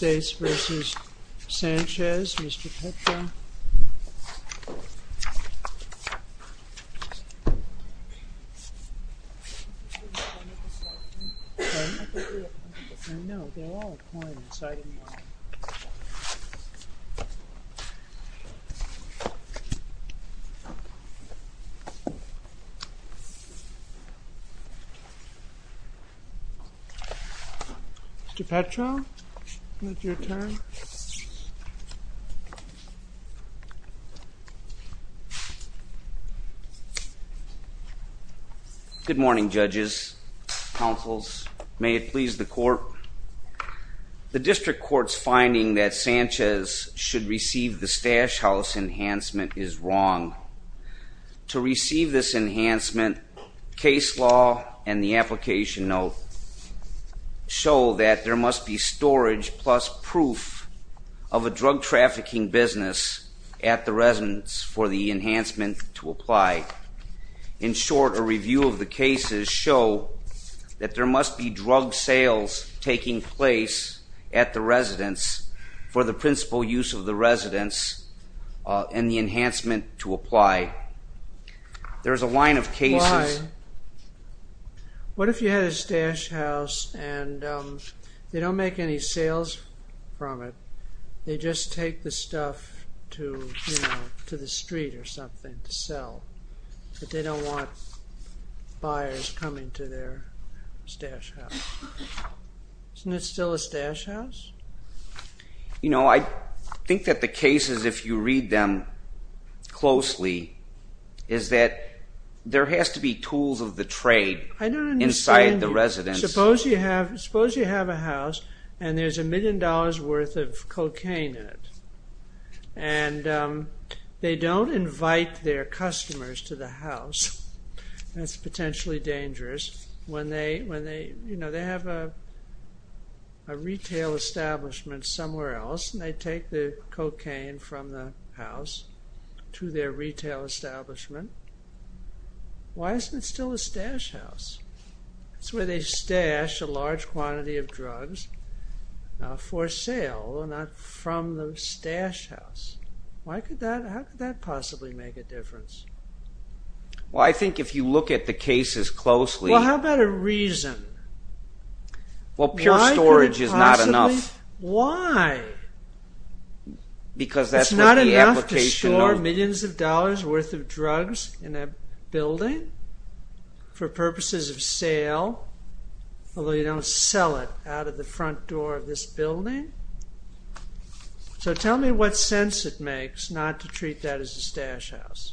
United States v. Sanchez, Mr. Petro Mr. Petro, it's your turn. Good morning judges, counsels, may it please the court. The district court's finding that Sanchez should receive the stash house enhancement is wrong. To receive this enhancement, case law and the application note show that there drug trafficking business at the residence for the enhancement to apply. In short, a review of the cases show that there must be drug sales taking place at the residence for the principal use of the residence and the enhancement to apply. There's a line of cases... What if you had a stash house and they don't make any sales from it, they just take the stuff to, you know, to the street or something to sell, but they don't want buyers coming to their stash house. Isn't it still a stash house? You know, I think that the cases, if you read them closely, is that there has to be tools of the trade inside the residence. Suppose you have a house and there's a million dollars worth of cocaine in it and they don't invite their customers to the house. That's potentially dangerous. When they, you know, they have a retail establishment somewhere else and they take the cocaine from the house to their stash house. That's where they stash a large quantity of drugs for sale and not from the stash house. Why could that, how could that possibly make a difference? Well, I think if you look at the cases closely... Well, how about a reason? Well, pure storage is not enough. Why? Because that's not enough to store millions of drugs in a building for purposes of sale, although you don't sell it out of the front door of this building. So tell me what sense it makes not to treat that as a stash house.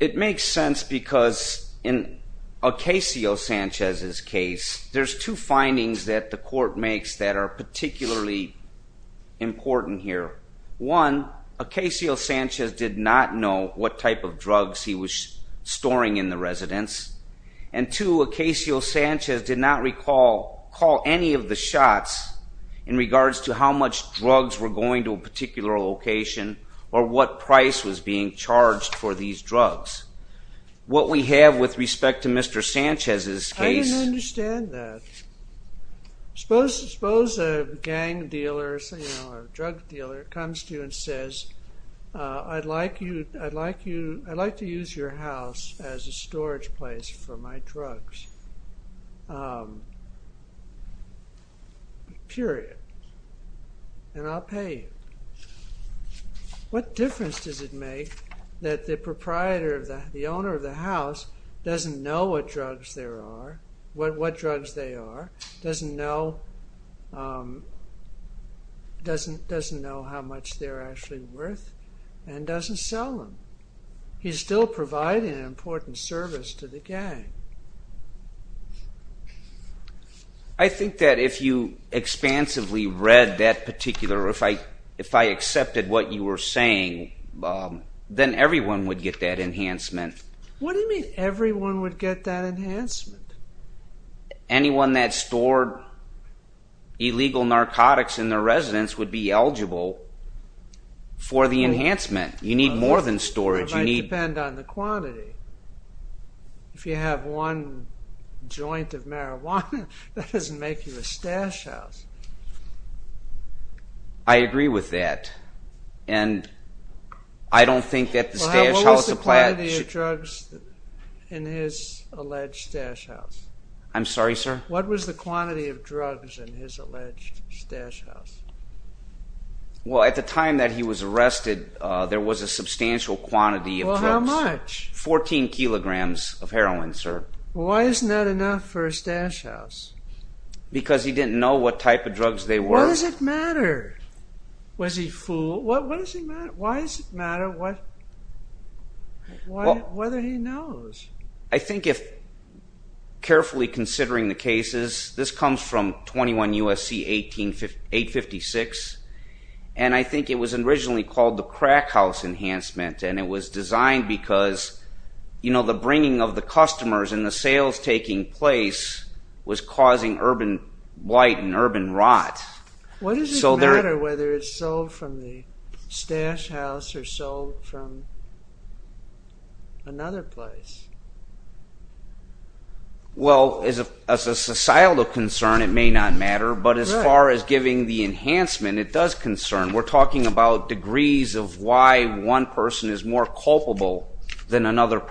It makes sense because in Ocasio-Sanchez's case, there's two findings that the court makes that are particularly important here. One, Ocasio- Sanchez did not know what type of drugs he was storing in the residence. And two, Ocasio-Sanchez did not recall any of the shots in regards to how much drugs were going to a particular location or what price was being charged for these drugs. What we have with respect to Mr. Sanchez's case... I didn't understand that. Suppose a gang dealer or a drug dealer comes to you and says, I'd like you, I'd like you, I'd like to use your house as a storage place for my drugs. Period. And I'll pay you. What difference does it make that the proprietor, the owner of the house, doesn't know what drugs there are, what drugs they are, doesn't know how much they're actually worth, and doesn't sell them. He's still providing an important service to the gang. I think that if you expansively read that particular, if I accepted what you were saying, then everyone would get that enhancement. What do you mean everyone would get that enhancement? Anyone that stored illegal narcotics in their residence would be eligible for the enhancement. You need more than storage. It might depend on the quantity. If you have one joint of marijuana, that doesn't make you a stash house. I agree with that and I don't think that the stash house applies. What was the quantity of drugs in his alleged stash house? I'm sorry sir? What was the quantity of drugs in his alleged stash house? Well at the time that he was arrested there was a substantial quantity of drugs. Well how much? 14 kilograms of heroin sir. Why isn't that enough for a stash house? Because he didn't know what type of drugs they were. Why does it matter? Was he a fool? Why does it matter whether he knows? I think if carefully considering the cases, this comes from 21 U.S.C. 856 and I think it was originally called the crack house enhancement and it was designed because you know the bringing of the customers and the sales taking place was causing urban blight and urban rot. Why does it matter whether it's sold from the stash house or sold from another place? Well as a societal concern it may not matter but as far as giving the enhancement it does concern. We're talking about degrees of why one person is more culpable than a million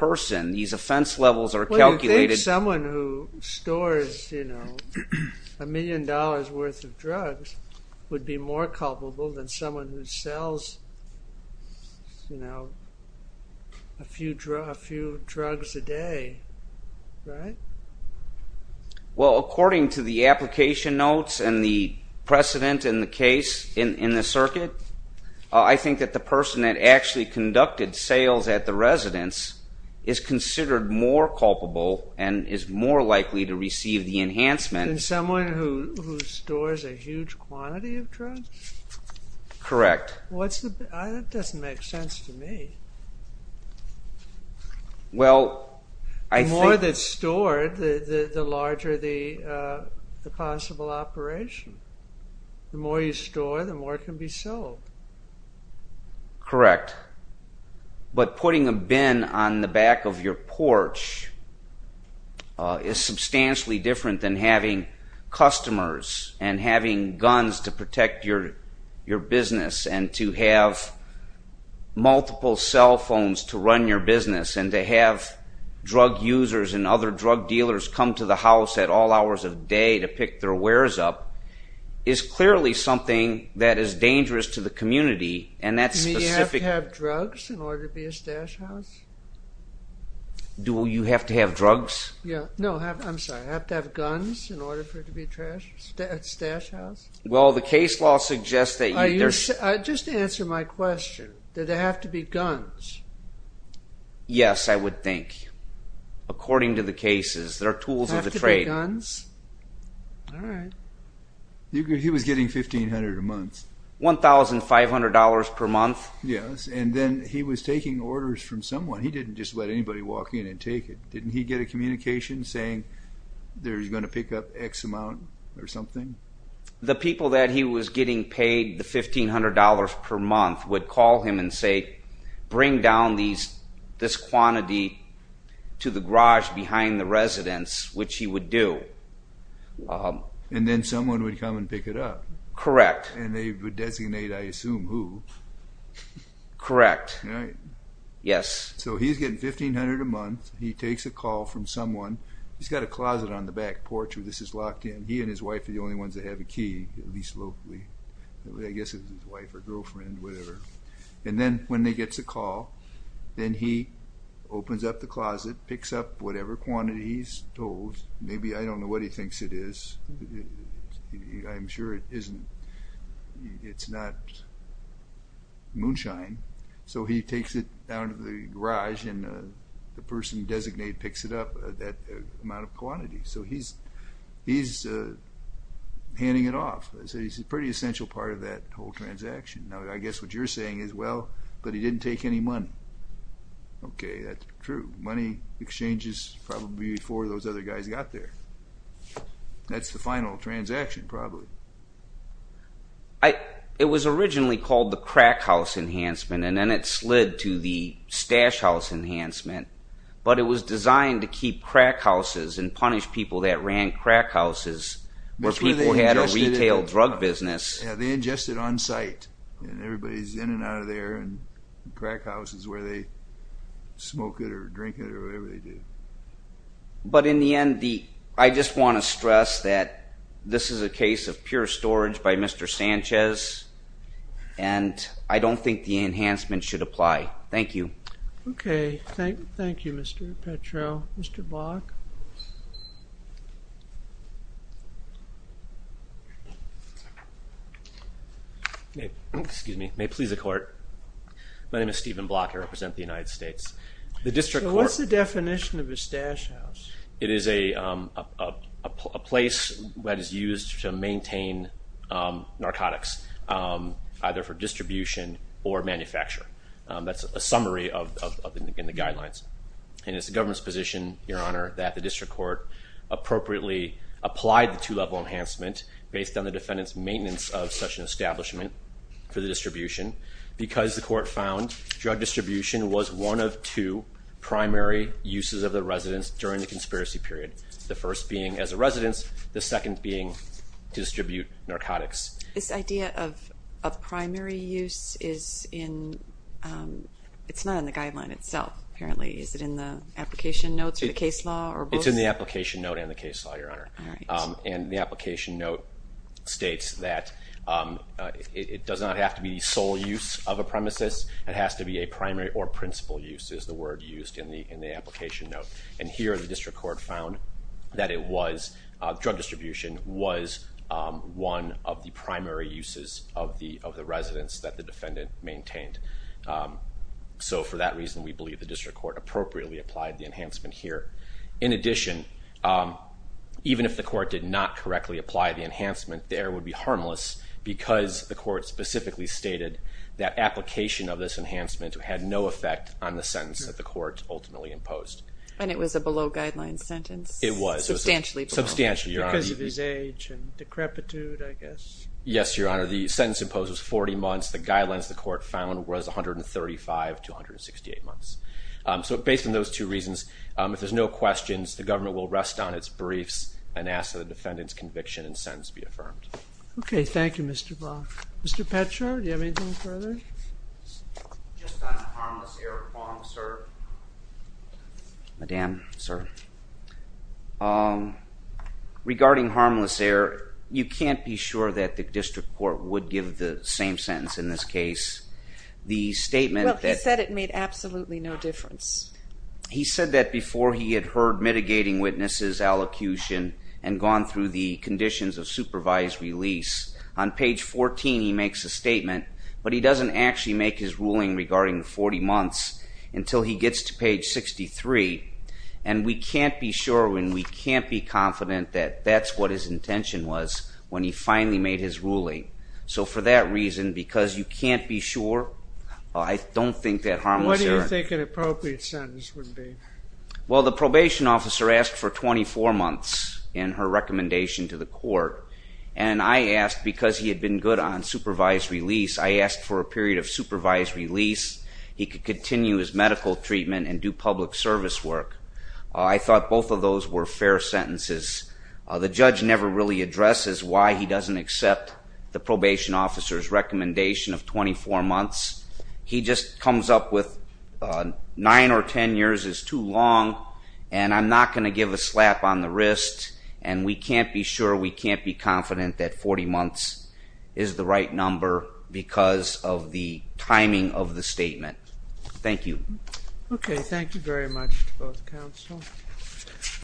dollars worth of drugs would be more culpable than someone who sells you know a few drugs a day right? Well according to the application notes and the precedent in the case in the circuit I think that the person that actually conducted sales at the residence is considered more culpable and is more likely to receive the enhancement than someone who who stores a huge quantity of drugs. Correct. That doesn't make sense to me. The more that's stored the larger the possible operation. The more you store the more it can be sold. Correct but putting a bin on the back of your porch is substantially different than having customers and having guns to protect your your business and to have multiple cell phones to run your business and to have drug users and other drug dealers come to the house at all hours of day to pick their wares up is clearly something that is dangerous to the community and that's specific. Do you have to have drugs in order to be a stash house? Do you have to have drugs? Yeah no I'm sorry I have to have guns in order for it to be a trash stash house. Well the case law suggests that. Just answer my question. Do they have to be guns? Yes I would think according to the cases there are to trade. All right. He was getting $1,500 a month. $1,500 per month? Yes and then he was taking orders from someone. He didn't just let anybody walk in and take it. Didn't he get a communication saying they're going to pick up x amount or something? The people that he was getting paid the $1,500 per month would call him and say bring down these this quantity to the garage behind the residence which he would do. And then someone would come and pick it up? Correct. And they would designate I assume who? Correct. All right. Yes. So he's getting $1,500 a month. He takes a call from someone. He's got a closet on the back porch where this is locked in. He and his wife are the only ones that have a key at least locally. I guess it was his wife or girlfriend whatever. And then when they gets a call then he opens up the closet, picks up whatever quantity he's told. Maybe I don't know what he thinks it is. I'm sure it isn't. It's not moonshine. So he takes it down to the garage and the person designated picks it up that amount of quantity. So he's handing it off. He's a pretty essential part of that whole transaction. Now I guess what you're saying is well but he didn't take any money. Okay that's true. Money exchanges probably before those other guys got there. That's the final transaction probably. It was originally called the crack house enhancement and then it slid to the stash house enhancement. But it was people that ran crack houses where people had a retail drug business. Yeah they ingested on site and everybody's in and out of there and crack house is where they smoke it or drink it or whatever they do. But in the end I just want to stress that this is a case of pure storage by Mr. Sanchez and I don't think the enhancement should apply. Thank you. Okay thank you Mr. Petrow. Mr. Block. Excuse me. May it please the court. My name is Stephen Block. I represent the United States. The District Court. So what's the definition of a stash house? It is a place that is used to maintain narcotics either for distribution or manufacture. That's a summary of in the guidelines and it's the government's position your honor that the District Court appropriately applied the two-level enhancement based on the defendant's maintenance of such an establishment for the distribution because the court found drug distribution was one of two primary uses of the residence during the conspiracy period. The first being as a residence, the second being to distribute narcotics. This idea of primary use is in, it's not in the guideline itself apparently. Is it in the application notes or the case law? It's in the application note and the case law your honor. And the application note states that it does not have to be sole use of a premises. It has to be a primary or principal use is the word used in the in the application note. And here the District Court found that it was drug distribution was one of the primary uses of the of the residence that the defendant maintained. So for that reason we believe the District Court appropriately applied the enhancement here. In addition, even if the court did not correctly apply the enhancement there would be harmless because the court specifically stated that application of this enhancement had no effect on the sentence that the court ultimately imposed. And it was a below guidelines sentence? It was. Substantially? Substantially your honor. Because of his age and decrepitude I guess. Yes your honor the sentence imposed was 40 months. The guidelines the court found was 135 to 168 months. So based on those two reasons if there's no questions the government will rest on its briefs and ask that the defendant's conviction and sentence be affirmed. Okay thank you Mr. Brock. Mr. Petscher do you have anything further? Just on harmless error, Madam sir. Regarding harmless error you can't be sure that the District Court would give the same sentence in this case. The statement that... Well he said it made absolutely no difference. He said that before he had heard mitigating witnesses allocution and gone through the conditions of supervised release. On page 14 he makes a statement but he doesn't actually make his ruling regarding the 40 months until he gets to page 63 and we can't be sure when we can't be confident that that's what his intention was when he finally made his ruling. So for that reason because you can't be sure I don't think that harmless error... What do you think an months in her recommendation to the court and I asked because he had been good on supervised release. I asked for a period of supervised release. He could continue his medical treatment and do public service work. I thought both of those were fair sentences. The judge never really addresses why he doesn't accept the probation officer's recommendation of 24 months. He just on the wrist and we can't be sure we can't be confident that 40 months is the right number because of the timing of the statement. Thank you. Okay thank you very much to both counsel.